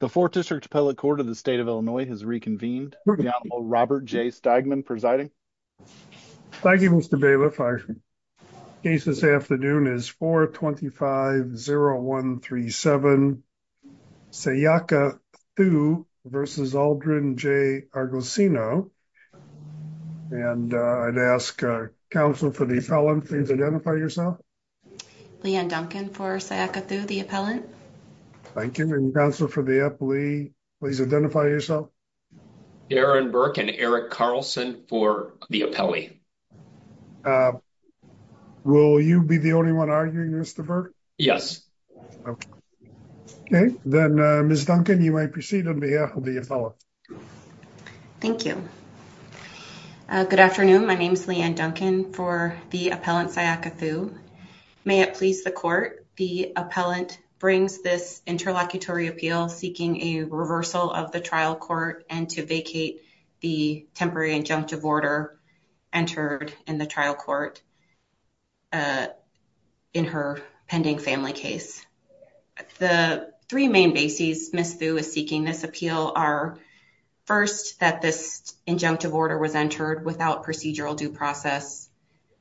The 4th District Appellate Court of the State of Illinois has reconvened. The Honorable Robert J. Steigman presiding. Thank you, Mr. Bailiff. Our case this afternoon is 425-0137 Sayaka Thu v. Aldrin J. Argosino. And I'd ask counsel for the appellant, please identify yourself. Leanne Duncan for Sayaka Thu, the appellant. Thank you. And counsel for the appellee, please identify yourself. Aaron Burke and Eric Carlson for the appellee. Will you be the only one arguing, Mr. Burke? Yes. Okay, then Ms. Duncan, you may proceed on behalf of the appellant. Thank you. Good afternoon. My name is Leanne Duncan for the appellant Sayaka Thu. May it please the court, the appellant brings this interlocutory appeal seeking a reversal of the trial court and to vacate the temporary injunctive order entered in the trial court in her pending family case. The three main bases Ms. Thu is seeking this appeal are, first, that this injunctive order was entered without procedural due process.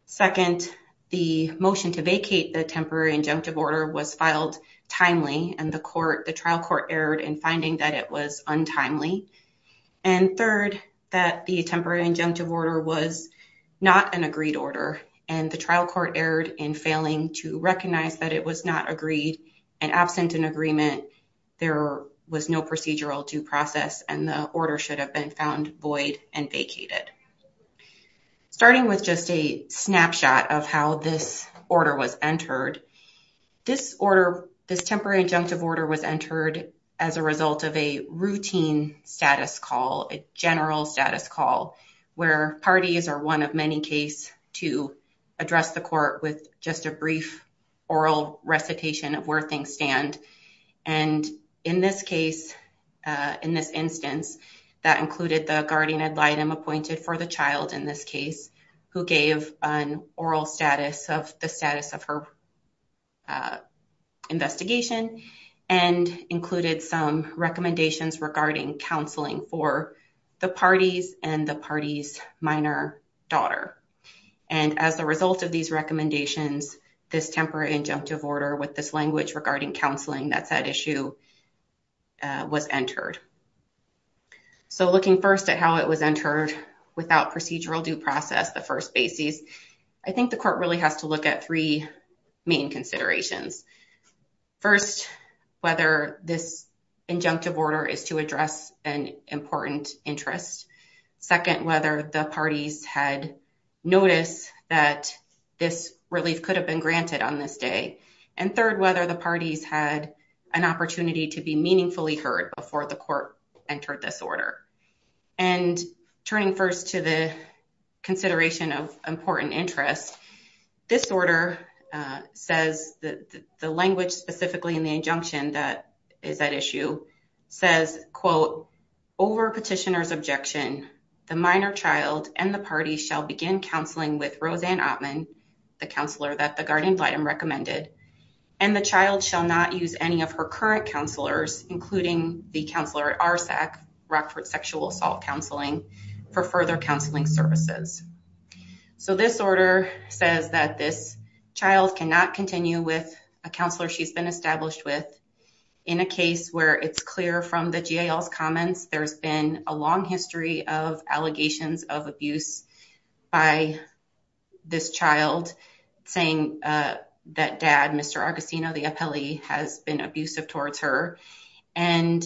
Second, the motion to vacate the temporary injunctive order was filed timely and the trial court erred in finding that it was untimely. And third, that the temporary injunctive order was not an agreed order and the trial court erred in failing to recognize that it was not agreed and absent an agreement, there was no procedural due process and the order should have been found void and vacated. Starting with just a snapshot of how this order was entered, this order, this temporary injunctive order was entered as a result of a routine status call, a general status call where parties are one of many case to address the court with just a brief oral recitation of where things stand. And in this case, in this instance, that included the guardian ad litem appointed for the child in this case who gave an oral status of the status of her investigation and included some recommendations regarding counseling for the parties and the party's minor daughter. And as a result of these recommendations, this temporary injunctive order with this language regarding counseling that said issue was entered. So looking first at how it was entered without procedural due process, the first basis, I think the court really has to look at three main considerations. First, whether this injunctive order is to address an important interest. Second, whether the parties had noticed that this relief could have been granted on this day. And third, whether the parties had an opportunity to be meaningfully heard before the court entered this order. And turning first to the consideration of important interest, this order says that the language specifically in the injunction that is at issue says, quote, over petitioner's objection, the minor child and the party shall begin counseling with Roseanne Oppmann, the counselor that the guardian ad litem recommended, and the child shall not use any of her current counselors, including the counselor at Rockford Sexual Assault Counseling, for further counseling services. So this order says that this child cannot continue with a counselor she's been established with. In a case where it's clear from the GAL's comments, there's been a long history of allegations of abuse by this child saying that Mr. Augustino, the appellee, has been abusive towards her. And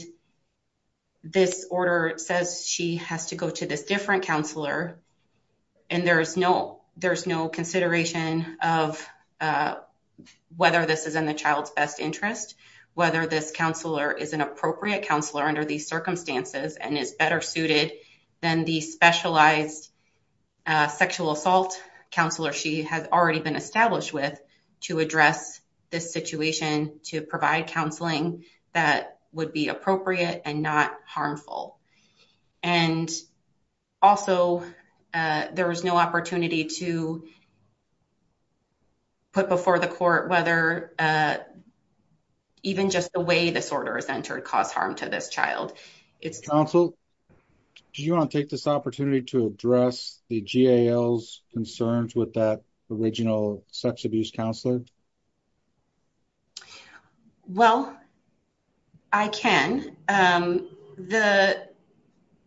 this order says she has to go to this different counselor. And there's no consideration of whether this is in the child's best interest, whether this counselor is an appropriate counselor under these circumstances and is better suited than the specialized sexual assault counselor she has already been established with to address this situation, to provide counseling that would be appropriate and not harmful. And also, there was no opportunity to put before the court whether even just the way this order is entered caused harm to this child. It's- Do you want to take this opportunity to address the GAL's concerns with that original sex abuse counselor? Well, I can. The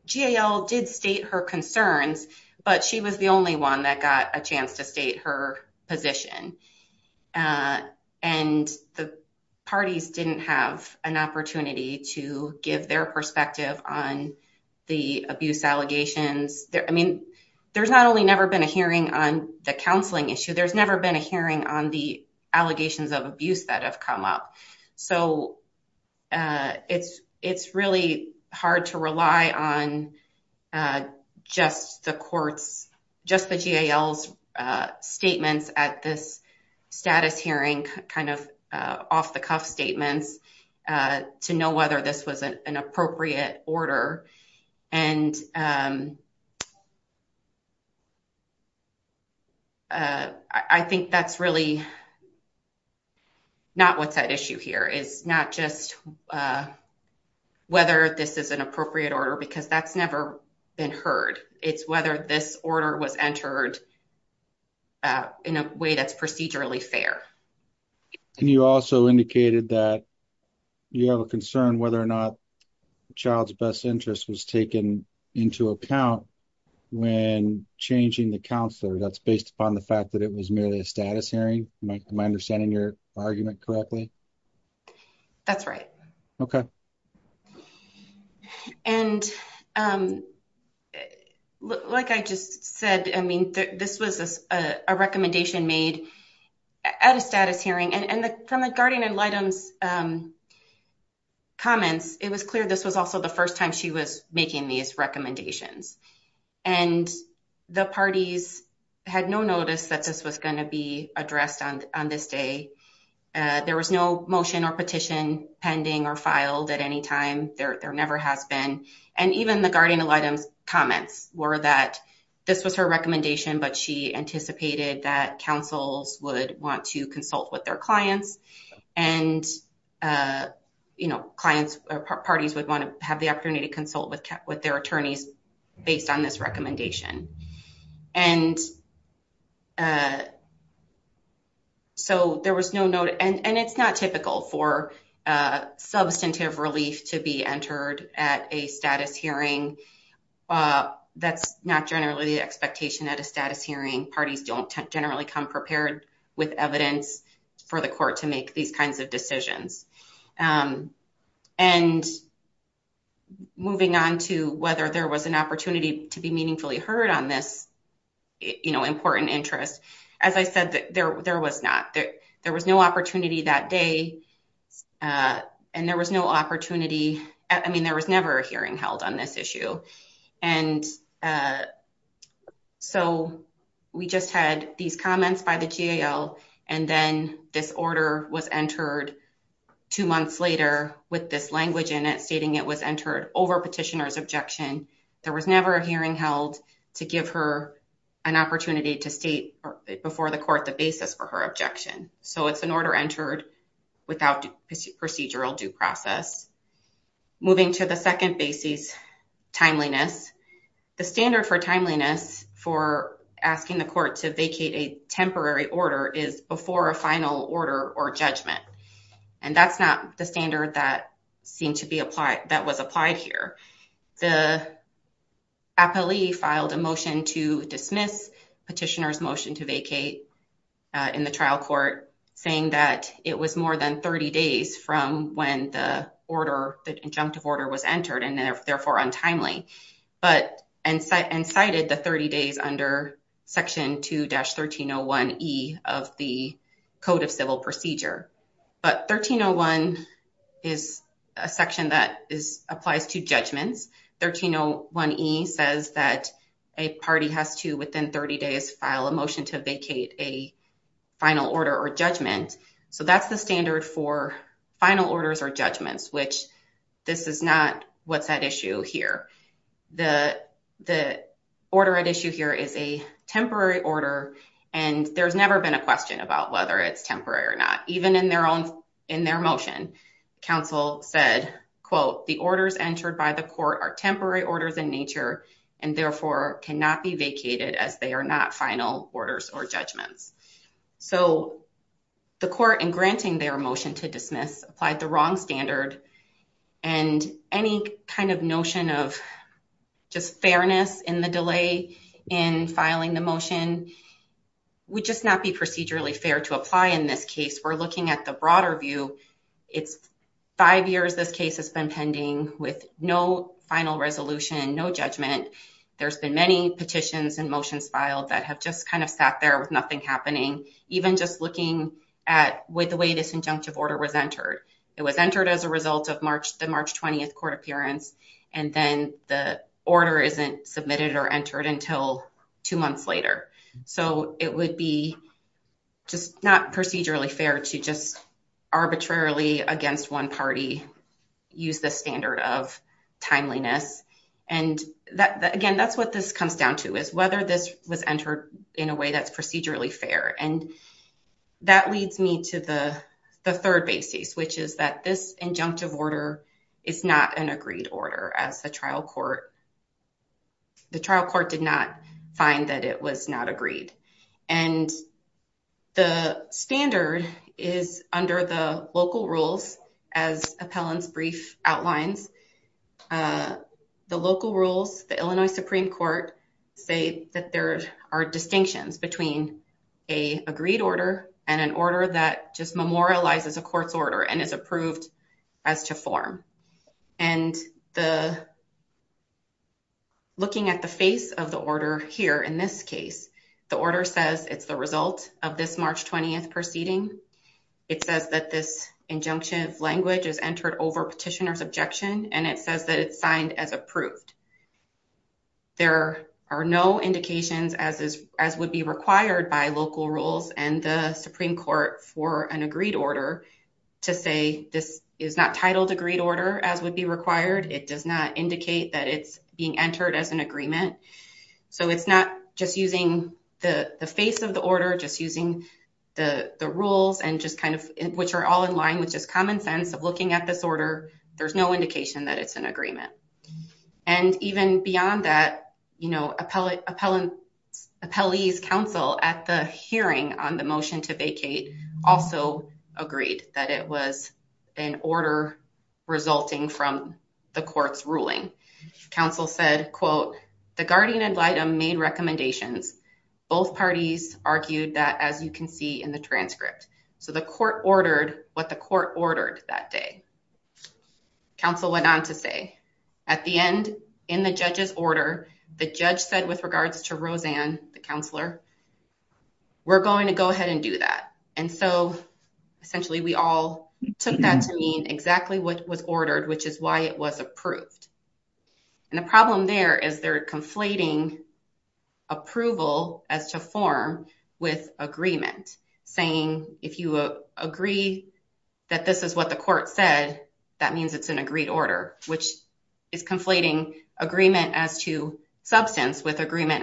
GAL did state her concerns, but she was the only one that got a chance to state her position. And the parties didn't have an opportunity to give their perspective on the abuse allegations. I mean, there's not only never been a hearing on the counseling issue, there's never been a hearing on the allegations of abuse that have come up. So it's really hard to rely on just the courts, just the GAL's statements at this status hearing, kind of off-the-cuff statements to know whether this was an appropriate order. And I think that's really not what's at issue here is not just whether this is an appropriate order, because that's never been heard. It's whether this order was entered in a way that's procedurally fair. And you also indicated that you have a concern whether or not the child's best interest was taken into account when changing the counselor. That's based upon the fact that it was merely a status hearing. Am I understanding your argument correctly? That's right. Okay. And like I just said, I mean, this was a recommendation made at a status hearing. And from the guardian-in-law's comments, it was clear this was also the first time she was making these recommendations. And the parties had no notice that this was going to be addressed on this day. There was no motion or petition pending or filed at any time. There never has been. And even the guardian-in-law's comments were that this was her recommendation, but she anticipated that councils would want to consult with their clients. And parties would want to have the opportunity to their attorneys based on this recommendation. And so there was no note. And it's not typical for substantive relief to be entered at a status hearing. That's not generally the expectation at a status hearing. Parties don't generally come prepared with evidence for the court to make these decisions. And moving on to whether there was an opportunity to be meaningfully heard on this important interest, as I said, there was not. There was no opportunity that day. And there was no opportunity. I mean, there was never a hearing held on this issue. And so we just had these comments by the GAL. And then this order was entered two months later with this language in it stating it was entered over petitioner's objection. There was never a hearing held to give her an opportunity to state before the court the basis for her objection. So it's an order entered without procedural due process. Moving to the the standard for timeliness for asking the court to vacate a temporary order is before a final order or judgment. And that's not the standard that seemed to be applied that was applied here. The appellee filed a motion to dismiss petitioner's motion to vacate in the trial court saying that it was more than 30 days from when the order, the injunctive order was entered and therefore untimely, but and cited the 30 days under section 2-1301E of the Code of Civil Procedure. But 1301 is a section that applies to judgments. 1301E says that a party has to within 30 days file a motion to vacate a final order or judgment. So that's the standard for final orders or judgments, which this is not what's at issue here. The order at issue here is a temporary order and there's never been a question about whether it's temporary or not. Even in their own in their motion, counsel said, quote, the orders entered by the court are temporary orders in nature and therefore cannot be vacated as they are not final orders or judgments. So the court, in granting their motion to dismiss, applied the wrong standard and any kind of notion of just fairness in the delay in filing the motion would just not be procedurally fair to apply in this case. We're looking at the broader view. It's five years this case has been pending with no final resolution, no judgment. There's been many petitions and motions filed that have just kind of sat there with nothing happening, even just looking at the way this injunctive order was entered. It was entered as a result of the March 20th court appearance and then the order isn't submitted or entered until two months later. So it would be just not procedurally fair to just arbitrarily against one party use the standard of timeliness. And again, that's what this comes down to is whether this was entered in a way that's procedurally fair. And that leads me to the third basis, which is that this injunctive order is not an agreed order as the trial court, the trial court did not find that it was not agreed. And the standard is under the local rules as appellant's brief outlines. The local rules, the Illinois Supreme Court say that there are distinctions between a agreed order and an order that just memorializes a court's order and is approved as to form. And looking at the face of the order here in this case, the order says it's result of this March 20th proceeding. It says that this injunctive language is entered over petitioner's objection and it says that it's signed as approved. There are no indications as would be required by local rules and the Supreme Court for an agreed order to say this is not titled agreed order as would be required. It does not indicate that it's being entered as agreement. So it's not just using the face of the order, just using the rules and just kind of, which are all in line with just common sense of looking at this order. There's no indication that it's an agreement. And even beyond that, appellee's counsel at the hearing on the motion to vacate also agreed that it was an order resulting from the court's ruling. Counsel said, quote, the guardian ad litem made recommendations. Both parties argued that as you can see in the transcript. So the court ordered what the court ordered that day. Counsel went on to say, at the end in the judge's order, the judge said with regards to Roseanne, the counselor, we're going to go ahead and do that. And so essentially we all took that to mean exactly what was ordered, which is why it was approved. And the problem there is they're conflating approval as to form with agreement saying, if you agree that this is what the court said, that means it's an agreed order, which is conflating agreement as to substance with agreement.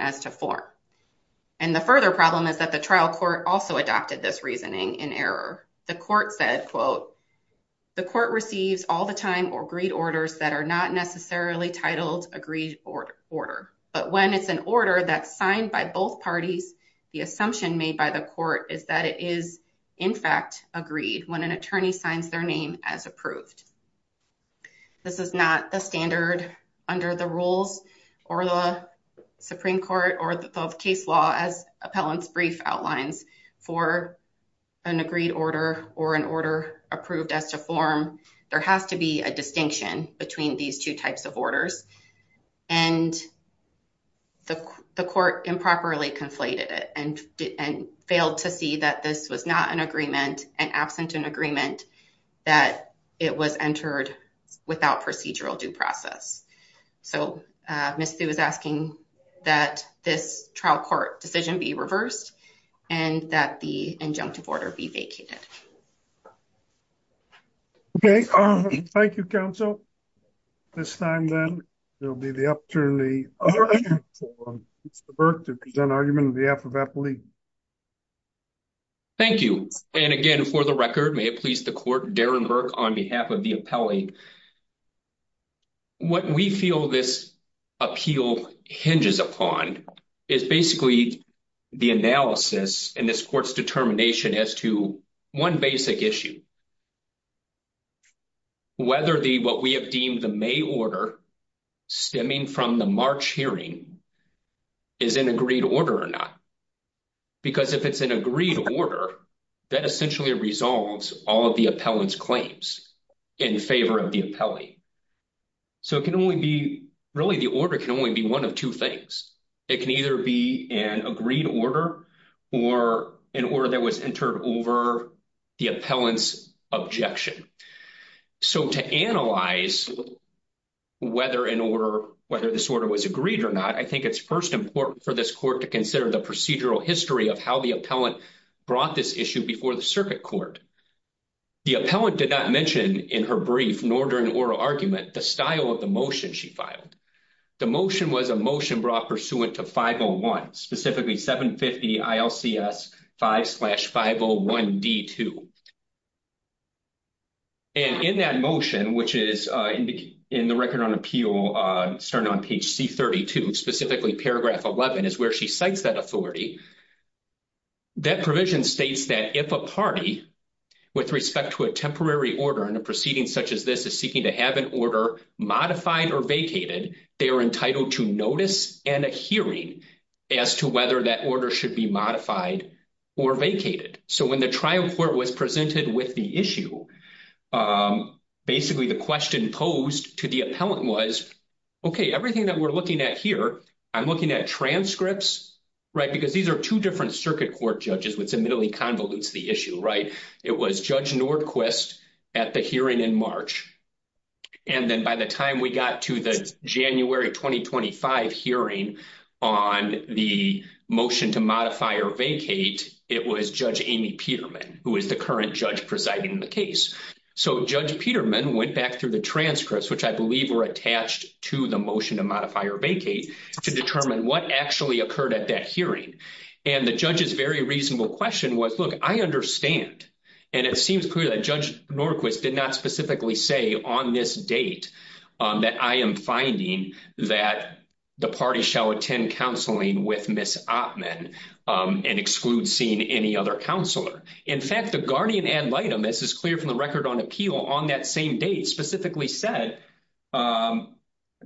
And the further problem is that the trial court also adopted this reasoning in error. The court said, quote, the court receives all the time or agreed orders that are not necessarily titled agreed order. But when it's an order that's signed by both parties, the assumption made by the court is that it is in fact agreed when an attorney signs their name as approved. This is not the standard under the rules or the Supreme Court or the case law as appellant's brief outlines for an agreed order or an order approved as to form. There has to be a distinction between these two types of orders. And the court improperly conflated it and failed to see that this was an agreement and absent an agreement that it was entered without procedural due process. So Ms. Thu is asking that this trial court decision be reversed and that the injunctive order be vacated. Okay. Thank you, counsel. This time then, there'll be the opportunity for Mr. Burke to present argument on behalf of Appellee. Thank you. And again, for the record, may it please the court, Darren Burke on behalf of the appellee. What we feel this appeal hinges upon is basically the analysis in this court's determination as to one basic issue. Whether the, what we have deemed the May order stemming from the March hearing is an agreed order or not. Because if it's an agreed order, that essentially resolves all of the appellant's claims in favor of the appellee. So it can only be, really, the order can only be one of two things. It can either be an agreed order or an order that was agreed or not. I think it's first important for this court to consider the procedural history of how the appellant brought this issue before the circuit court. The appellant did not mention in her brief, nor during oral argument, the style of the motion she filed. The motion was a motion brought pursuant to 501, specifically 750 ILCS 5 slash 501 D2. And in that motion, which is in the record on appeal, starting on page C32, specifically paragraph 11, is where she cites that authority. That provision states that if a party, with respect to a temporary order in a proceeding such as this, is seeking to have an order modified or vacated, they are entitled to notice and a hearing as to whether that order should be modified or vacated. So when the trial court was presented with the issue, basically the question posed to the appellant was, okay, everything that we're looking at here, I'm looking at transcripts, right? Because these are two different circuit court judges, which admittedly convolutes the issue, right? It was Judge Nordquist at the hearing in March. And then by the time we got to the January 2025 hearing on the motion to modify or vacate, it was Judge Amy Peterman, who is the current judge presiding the case. So Judge Peterman went back through the transcripts, which I believe were attached to the motion to modify or vacate, to determine what actually occurred at that hearing. And the judge's very reasonable question was, look, I understand. And it seems clear that Judge Nordquist did not specifically say on this date that I am finding that the party shall attend counseling with Ms. Oppmann and exclude seeing any other counselor. In fact, the guardian ad litem, this is clear from the record on appeal on that same date, specifically said, I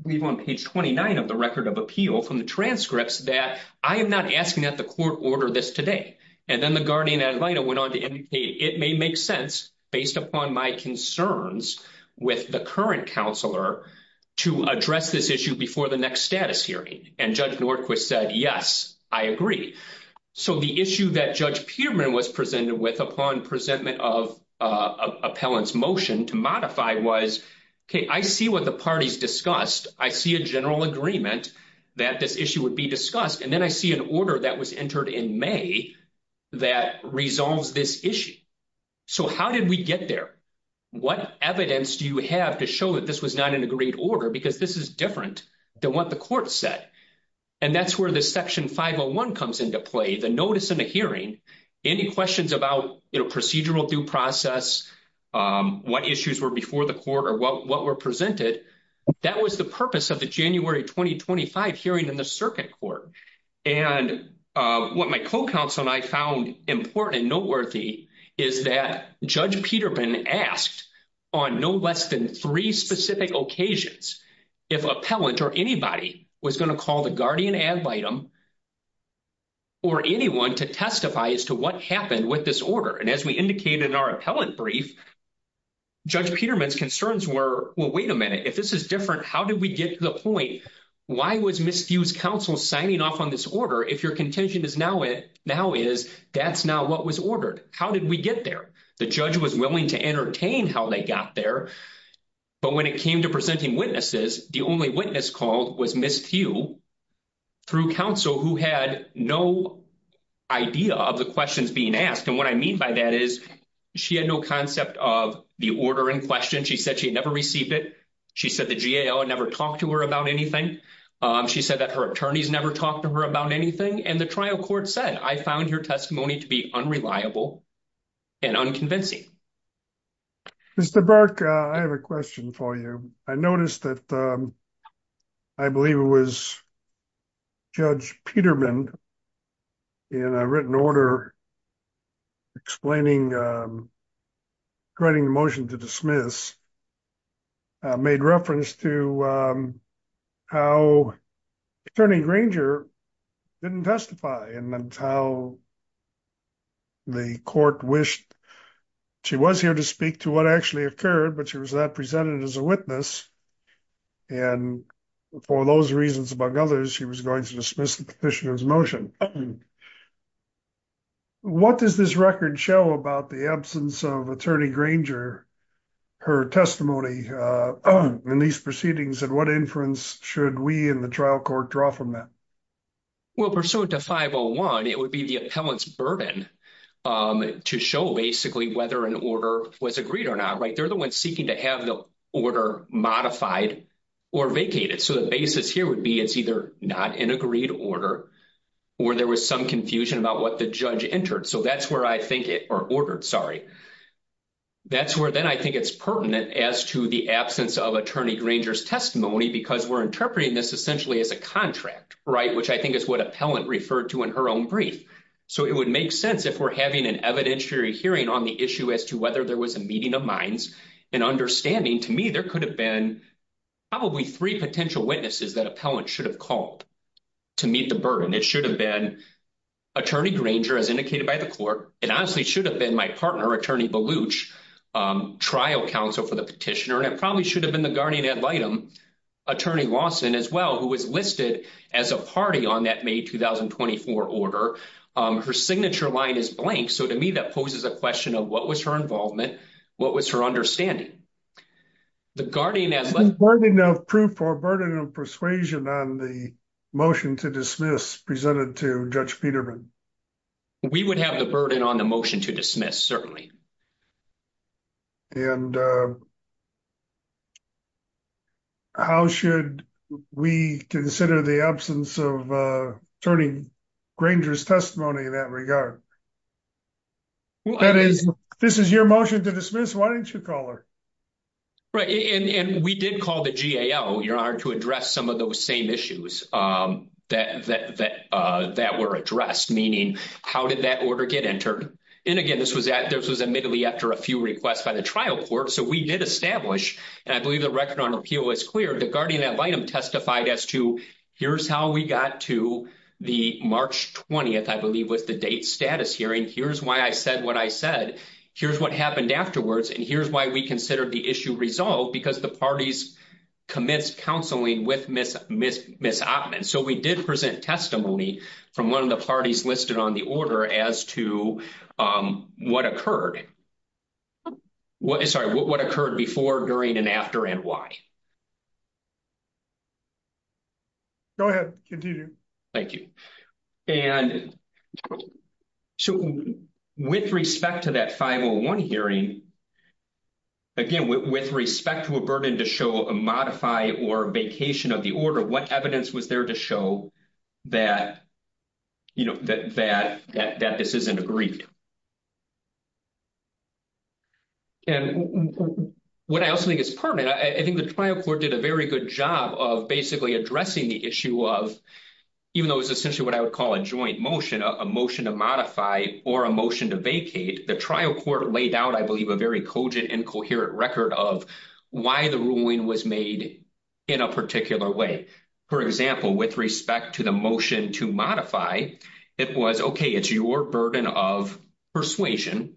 believe on page 29 of the record of appeal from the transcripts that I am not asking that the court order this today. And then the guardian ad litem went on to indicate it may make sense based upon my concerns with the current counselor to address this issue before the next status hearing. And Judge Nordquist said, yes, I agree. So the issue that Judge Peterman was presented with upon presentment of appellant's motion to modify was, okay, I see what the party's discussed. I see a general agreement that this issue would be discussed. And then I see an order that was entered in May that resolves this issue. So how did we get there? What evidence do you have to show that this was not an agreed order? Because this is different than what the court said. And that's where the section 501 comes into play, the notice in the hearing, any questions about, you know, procedural due process, what issues were before the court or what were presented. That was the purpose of January 2025 hearing in the circuit court. And what my co-counsel and I found important and noteworthy is that Judge Peterman asked on no less than three specific occasions, if appellant or anybody was going to call the guardian ad litem or anyone to testify as to what happened with this order. And as we indicated in our appellant brief, Judge Peterman's concerns were, well, wait a minute, this is different. How did we get to the point? Why was Ms. Thew's counsel signing off on this order? If your contention is now is, that's now what was ordered. How did we get there? The judge was willing to entertain how they got there. But when it came to presenting witnesses, the only witness called was Ms. Thew through counsel who had no idea of the questions being asked. And what I mean by that is, she had no concept of the order in question. She said she had never received it. She said the GAO had never talked to her about anything. She said that her attorneys never talked to her about anything. And the trial court said, I found your testimony to be unreliable and unconvincing. Mr. Burke, I have a question for you. I noticed that I believe it was Judge Peterman, in a written order, explaining, writing the motion to dismiss, made reference to how Attorney Granger didn't testify and how the court wished she was here to speak to what actually occurred, but she was not presented as a witness. And for those reasons, among others, she was going to dismiss the petitioner's motion. What does this record show about the absence of Attorney Granger, her testimony in these proceedings? And what inference should we in the trial court draw from that? Well, pursuant to 501, it would be the appellant's burden to show basically whether an order was agreed or not, right? They're the ones seeking to have the order modified or vacated. So the basis here would be it's either not an agreed order, or there was some confusion about what the judge entered. So that's where I think it, or ordered, sorry. That's where then I think it's pertinent as to the absence of Attorney Granger's testimony, because we're interpreting this essentially as a contract, right? Which I think is what appellant referred to in her own brief. So it would make sense if we're having an evidentiary hearing on the issue as to whether there was a meeting of minds and understanding. To me, there could have been probably three potential witnesses that appellant should have called to meet the burden. It should have been Attorney Granger, as indicated by the court. It honestly should have been my partner, Attorney Baluch, trial counsel for the petitioner. And it probably should have been the guardian ad litem, Attorney Lawson as well, who was listed as a party on that 2024 order. Her signature line is blank. So to me, that poses a question of what was her involvement? What was her understanding? The guardian ad litem. The burden of proof or burden of persuasion on the motion to dismiss presented to Judge Peterman? We would have the burden on the motion to dismiss, certainly. And how should we consider the absence of Attorney Granger's testimony in that regard? That is, this is your motion to dismiss. Why didn't you call her? Right. And we did call the GAO, Your Honor, to address some of those same issues that were addressed. Meaning, how did that order get entered? And again, this was admittedly after a few requests by the trial court. So we did establish, and I believe the record on repeal was clear, the guardian ad litem testified as to, here's how we got to the March 20th, I believe, was the date status hearing. Here's why I said what I said. Here's what happened afterwards. And here's why we considered the issue resolved, because the parties commenced counseling with Ms. Oppmann. So we did present testimony from one of the parties listed on the order as to what occurred. Sorry, what occurred before, during, and after, and why. Go ahead. Continue. Thank you. And so with respect to that 501 hearing, again, with respect to a burden to show a modify or vacation of the order, what evidence was there to show that this isn't agreed to? And what I also think is pertinent, I think the trial court did a very good job of basically addressing the issue of, even though it was essentially what I would call a joint motion, a motion to modify or a motion to vacate, the trial court laid out, I believe, a very cogent and coherent record of why the ruling was made in a particular way. For example, with respect to the motion to modify, it was, okay, it's your burden of persuasion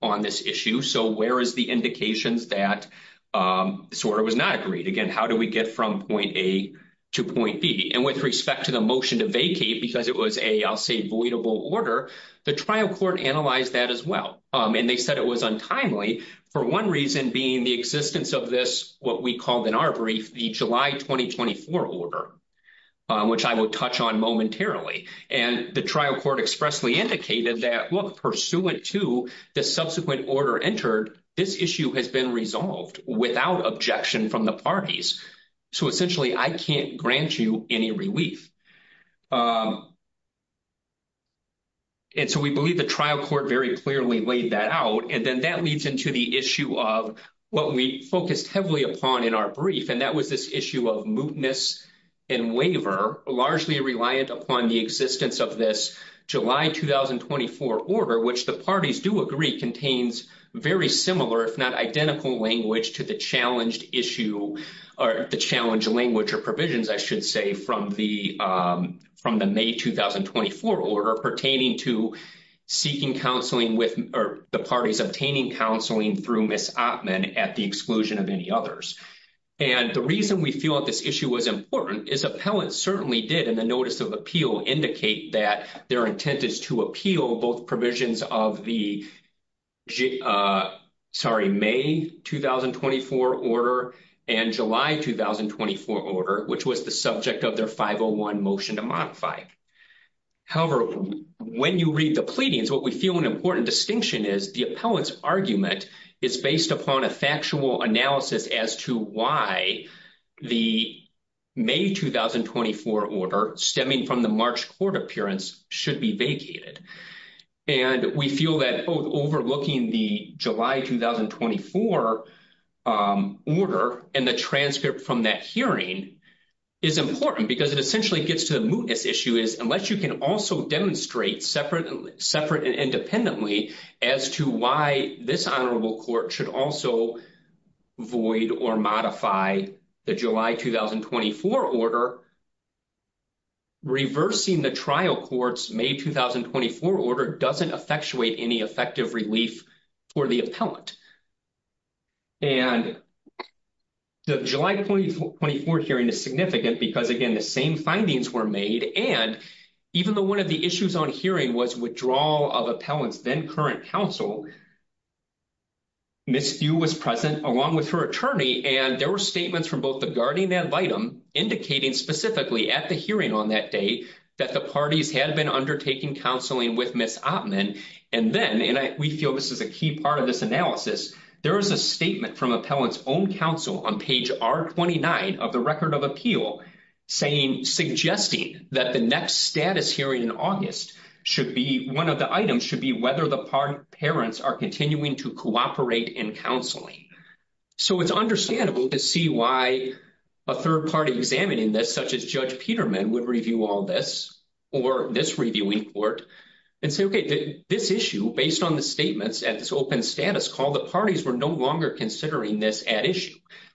on this issue. So where is the indications that this order was not agreed? Again, how do we get from point A to point B? And with respect to the motion to vacate, because it was a, I'll say, voidable order, the trial court analyzed that as well. And they said it was untimely, for one reason being the existence of this, what we called in our brief, the July 2024 order, which I will touch on momentarily. And the trial court expressly indicated that, look, pursuant to the subsequent order entered, this issue has been resolved without objection from the parties. So essentially, I can't grant you any relief. And so we believe the trial court very clearly laid that out. And then that leads into the issue of what we focused heavily upon in our brief. And that was this issue of mootness and waiver, largely reliant upon the existence of this July 2024 order, which the parties do agree contains very similar, if not identical language to the challenged issue, or the challenged language or provisions, I should say, from the May 2024 order pertaining to seeking counseling with, or the parties obtaining counseling through Ms. Oppmann at the exclusion of any others. And the reason we feel that this issue was important is appellants certainly did, in the notice of appeal, indicate that their intent is to appeal both provisions of the, gee, sorry, May 2024 order and July 2024 order, which was the subject of their 501 motion to modify. However, when you read the pleadings, what we feel an important distinction is the appellant's argument is based upon a factual analysis as to why the May 2024 order stemming from the March court appearance should be vacated. And we feel that both overlooking the July 2024 order and the transcript from that hearing is important because it essentially gets to the mootness issue is unless you can also demonstrate separate and independently as to why this honorable court should also void or modify the July 2024 order, reversing the trial court's May 2024 order doesn't effectuate any effective relief for the appellant. And the July 2024 hearing is significant because, again, the same findings were made, and even though one of the issues on hearing was withdrawal of appellants then current counsel, Ms. Few was present along with her attorney, and there were statements from both the guardian and litem indicating specifically at the hearing on that day that the parties had been undertaking counseling with Ms. Oppmann. And then, and we feel this is a key part of this analysis, there is a statement from appellant's own counsel on page R29 of the record of appeal saying, suggesting that the next status hearing in August should be, one of the items should be parents are continuing to cooperate in counseling. So it's understandable to see why a third party examining this such as Judge Peterman would review all this or this reviewing court and say, okay, this issue based on the statements at this open status call, the parties were no longer considering this at issue.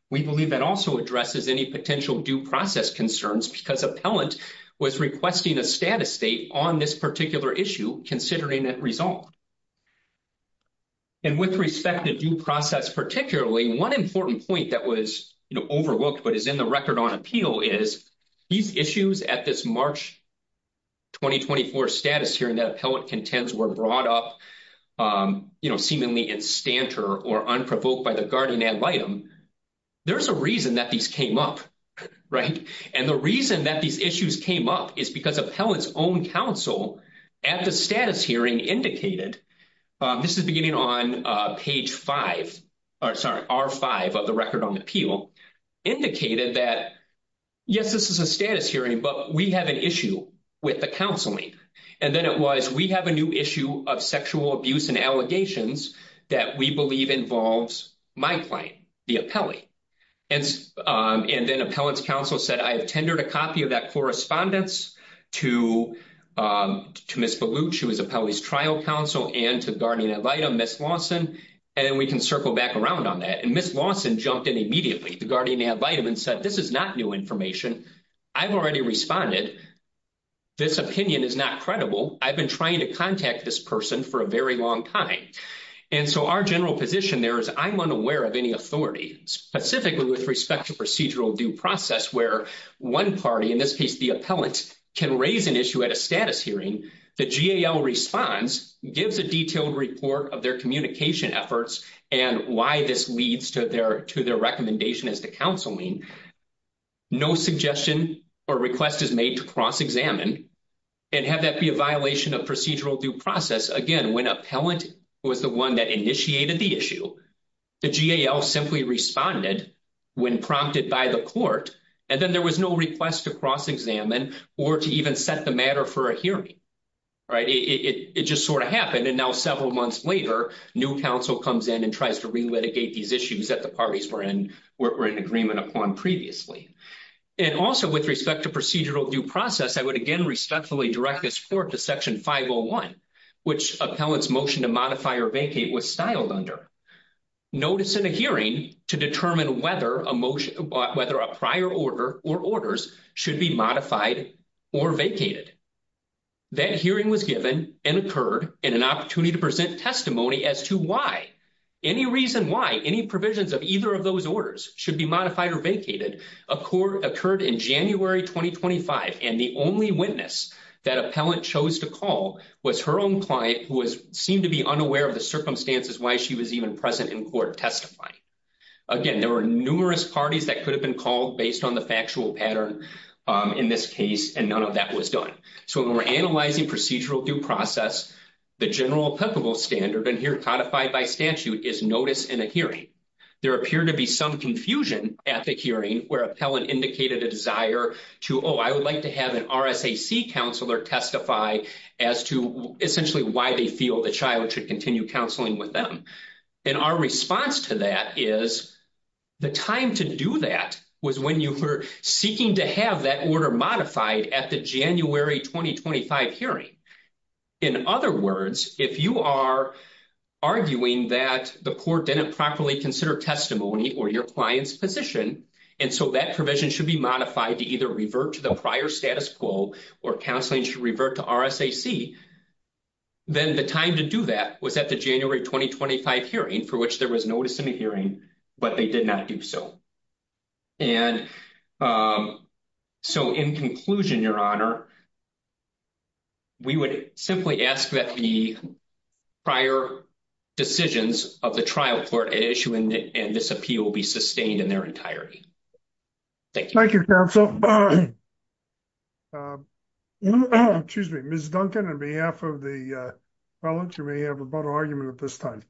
We believe that also addresses any potential due process concerns because appellant was requesting a status date on this particular issue considering that result. And with respect to due process, particularly one important point that was overlooked, but is in the record on appeal is these issues at this March 2024 status hearing that appellant contends were brought up seemingly in stanter or unprovoked by the guardian and litem, there's a reason that these came up, right? And the reason that these issues came up is because appellant's own counsel at the status hearing indicated, this is beginning on page five, or sorry, R5 of the record on appeal indicated that, yes, this is a status hearing, but we have an issue with the counseling. And then it was, we have a new issue of sexual abuse and allegations that we believe involves my client, the appellee. And then appellant's counsel said, I have a copy of that correspondence to Ms. Baluch, who was appellee's trial counsel and to guardian and litem, Ms. Lawson. And then we can circle back around on that. And Ms. Lawson jumped in immediately, the guardian and litem and said, this is not new information. I've already responded. This opinion is not credible. I've been trying to contact this person for a very long time. And so our general position there is I'm unaware of any authority, specifically with respect to procedural due process, where one party, in this case, the appellant can raise an issue at a status hearing. The GAL responds, gives a detailed report of their communication efforts and why this leads to their recommendation as to counseling. No suggestion or request is made to cross-examine and have that be a violation of procedural due process. Again, when appellant was the one that initiated the issue, the GAL simply responded when prompted by the court. And then there was no request to cross-examine or to even set the matter for a hearing. It just sort of happened. And now several months later, new counsel comes in and tries to re-litigate these issues that the parties were in agreement upon previously. And also with respect to procedural due process, I would again respectfully direct this court to section 501, which appellant's motion to modify or vacate was styled under. Notice in a hearing to determine whether a prior order or orders should be modified or vacated. That hearing was given and occurred in an opportunity to present testimony as to why. Any reason why any provisions of either of those orders should be modified or vacated occurred in January 2025. And the only witness that appellant chose to call was her own who seemed to be unaware of the circumstances why she was even present in court testifying. Again, there were numerous parties that could have been called based on the factual pattern in this case, and none of that was done. So when we're analyzing procedural due process, the general applicable standard and here codified by statute is notice in a hearing. There appeared to be some confusion at the hearing where appellant indicated a desire to, I would like to have an RSAC counselor testify as to essentially why they feel the child should continue counseling with them. And our response to that is the time to do that was when you were seeking to have that order modified at the January 2025 hearing. In other words, if you are arguing that the court didn't properly consider testimony or your client's position, and so that provision should be modified to either revert to the prior status quo or counseling should revert to RSAC, then the time to do that was at the January 2025 hearing for which there was notice in the hearing, but they did not do so. And so in conclusion, Your Honor, we would simply ask that the prior decisions of the trial court issue and this appeal be sustained in their entirety. Thank you. Thank you, counsel. Excuse me, Ms. Duncan, on behalf of the felons, you may have a vote of argument at this time.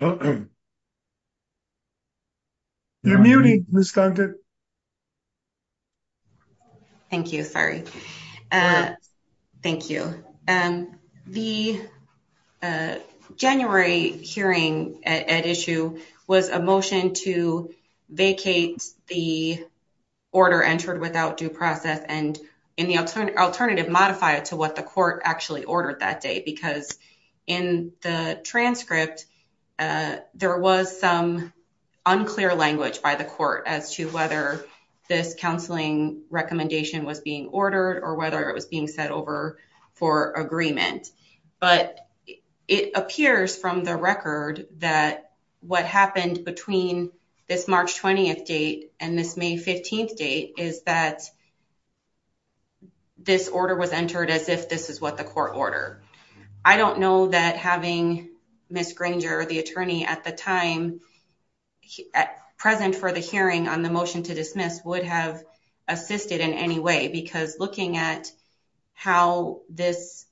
You're muted, Ms. Duncan. Thank you. Sorry. Thank you. The January hearing at issue was a motion to vacate the order entered without due process and in the alternative, modify it to what the court actually ordered that day, because in the transcript, there was some unclear language by the court as to whether this counseling recommendation was being ordered or whether it was being set over for agreement. But it appears from the record that what happened between this March 20th date and this May 15th date is that this order was entered as if this is what the court ordered. I don't know that having Ms. Granger or the attorney at the time present for the hearing on the motion to dismiss would have assisted in any way, because looking at how this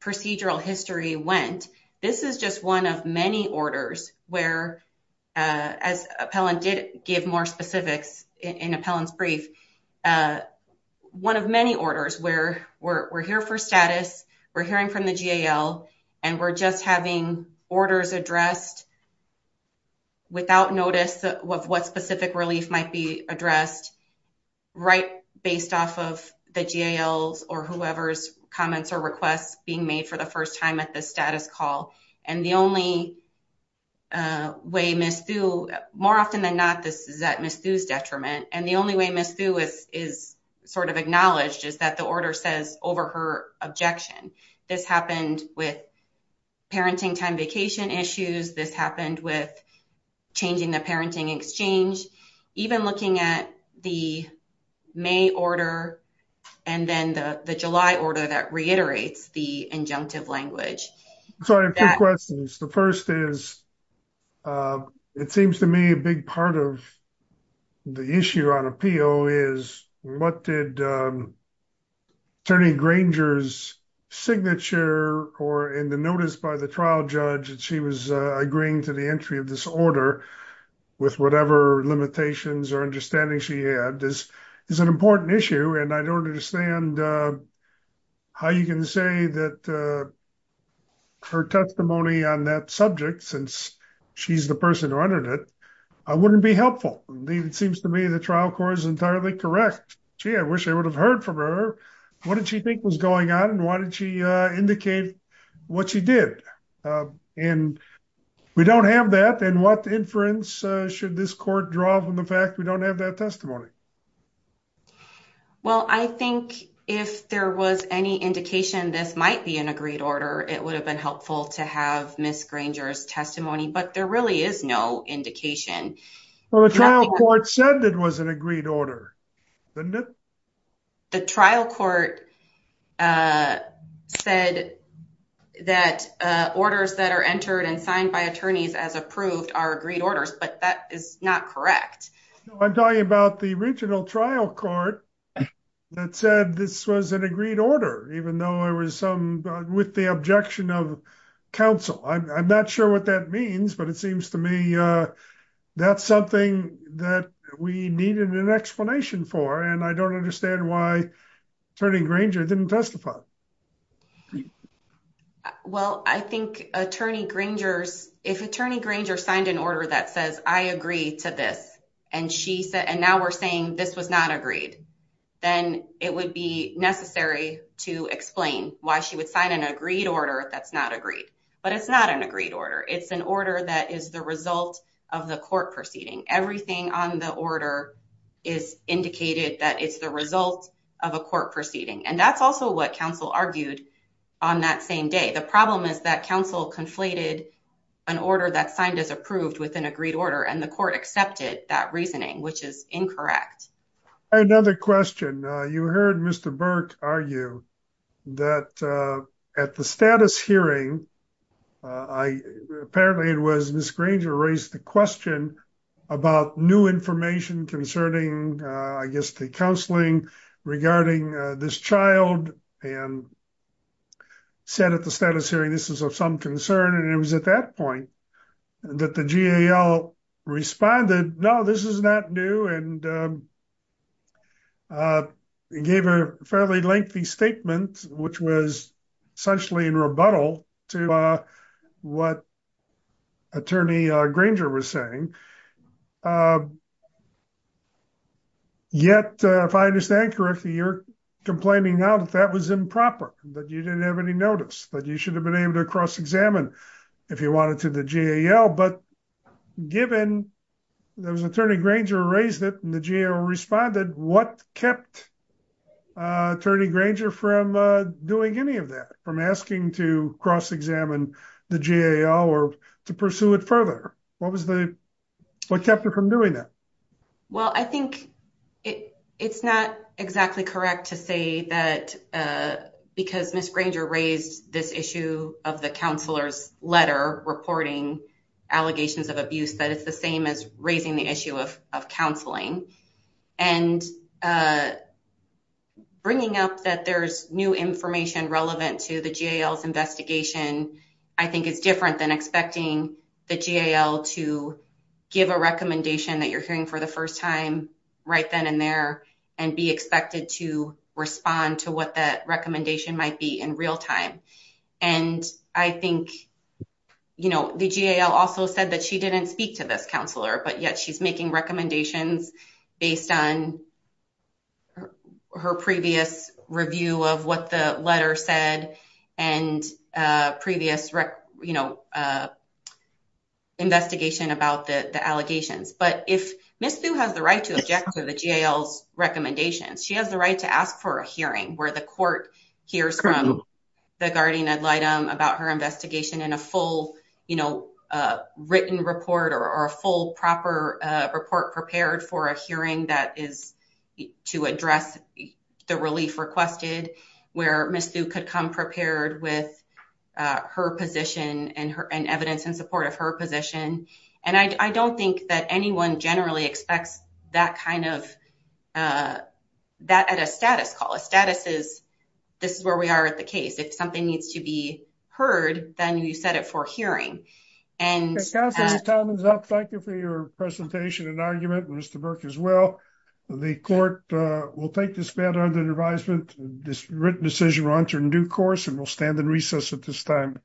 procedural history went, this is just one of many orders where, as appellant did give more specifics in appellant's brief, one of many orders addressed without notice of what specific relief might be addressed, right based off of the GALs or whoever's comments or requests being made for the first time at the status call. And the only way Ms. Thu, more often than not, this is at Ms. Thu's detriment. And the only way Ms. Thu is acknowledged is that the order says over her objection. This happened with parenting time vacation issues. This happened with changing the parenting exchange. Even looking at the May order and then the July order that reiterates the injunctive language. I have two questions. The first is, it seems to me a big part of the issue on appeal is what did Attorney Granger's signature or in the notice by the trial judge that she was agreeing to the entry of this order with whatever limitations or understanding she had. This is an important issue and I don't understand how you can say that her testimony on that subject, since she's the person who entered it, wouldn't be helpful. It seems to me the trial court is entirely correct. Gee, I wish I would have heard from her. What did she think was going on and why did she indicate what she did? And we don't have that and what inference should this court draw from the fact we don't have that testimony? Well, I think if there was any indication this might be an agreed order, it would have been helpful to have Ms. Granger's testimony, but there really is no indication. Well, the trial court said it was an agreed order, didn't it? The trial court said that orders that are entered and signed by attorneys as approved are agreed orders, but that is not correct. I'm talking about the original trial court that said this was an agreed order, even though there was some with the objection of counsel. I'm not sure what that means, but it seems to me that's something that we needed an explanation for and I don't understand why Attorney Granger didn't testify. Well, I think if Attorney Granger signed an order that says I agree to this and now we're saying this was not agreed, then it would be necessary to explain why she would sign an agreed order that's not agreed. But it's not an agreed order. It's an order that is the result of the court proceeding. Everything on the order is indicated that it's the result of a court proceeding and that's also what counsel argued on that same day. The problem is that counsel conflated an order that signed as approved with an agreed order and the court accepted that reasoning, which is incorrect. Another question. You heard Mr. Burke argue that at the hearing, apparently it was Ms. Granger raised the question about new information concerning, I guess, the counseling regarding this child and said at the status hearing this is of some concern. And it was at that point that the GAL responded, no, this is not new and gave a fairly lengthy statement, which was essentially in rebuttal to what Attorney Granger was saying. Yet, if I understand correctly, you're complaining now that that was improper, that you didn't have any notice, that you should have been able to cross-examine if you wanted to the GAL. But given that Attorney Granger raised it and the GAL responded, what kept Attorney Granger from doing any of that, from asking to cross-examine the GAL or to pursue it further? What kept her from doing that? Well, I think it's not exactly correct to that because Ms. Granger raised this issue of the counselor's letter reporting allegations of abuse, that it's the same as raising the issue of counseling. And bringing up that there's new information relevant to the GAL's investigation, I think it's different than expecting the GAL to give a recommendation that you're hearing for the first time right then and there and be expected to respond to what that recommendation might be in real time. And I think, you know, the GAL also said that she didn't speak to this counselor, but yet she's making recommendations based on her previous review of what the letter said and previous, you know, investigation about the allegations. But if Ms. Thu has the right to object to the GAL's recommendations, she has the right to ask for a hearing where the court hears from the guardian ad litem about her investigation in a full, you know, written report or a full proper report prepared for a hearing that is to address the relief requested, where Ms. Thu could come prepared with her position and evidence in support of her position. And I don't think that anyone generally expects that kind of, that at a status call. A status is, this is where we are at the case. If something needs to be heard, then you set it for hearing. And- Ms. Thompson, your time is up. Thank you for your presentation and argument, Mr. Burke as well. The court will take this matter under advisement. This written decision will enter into due course and will stand in recess at this time.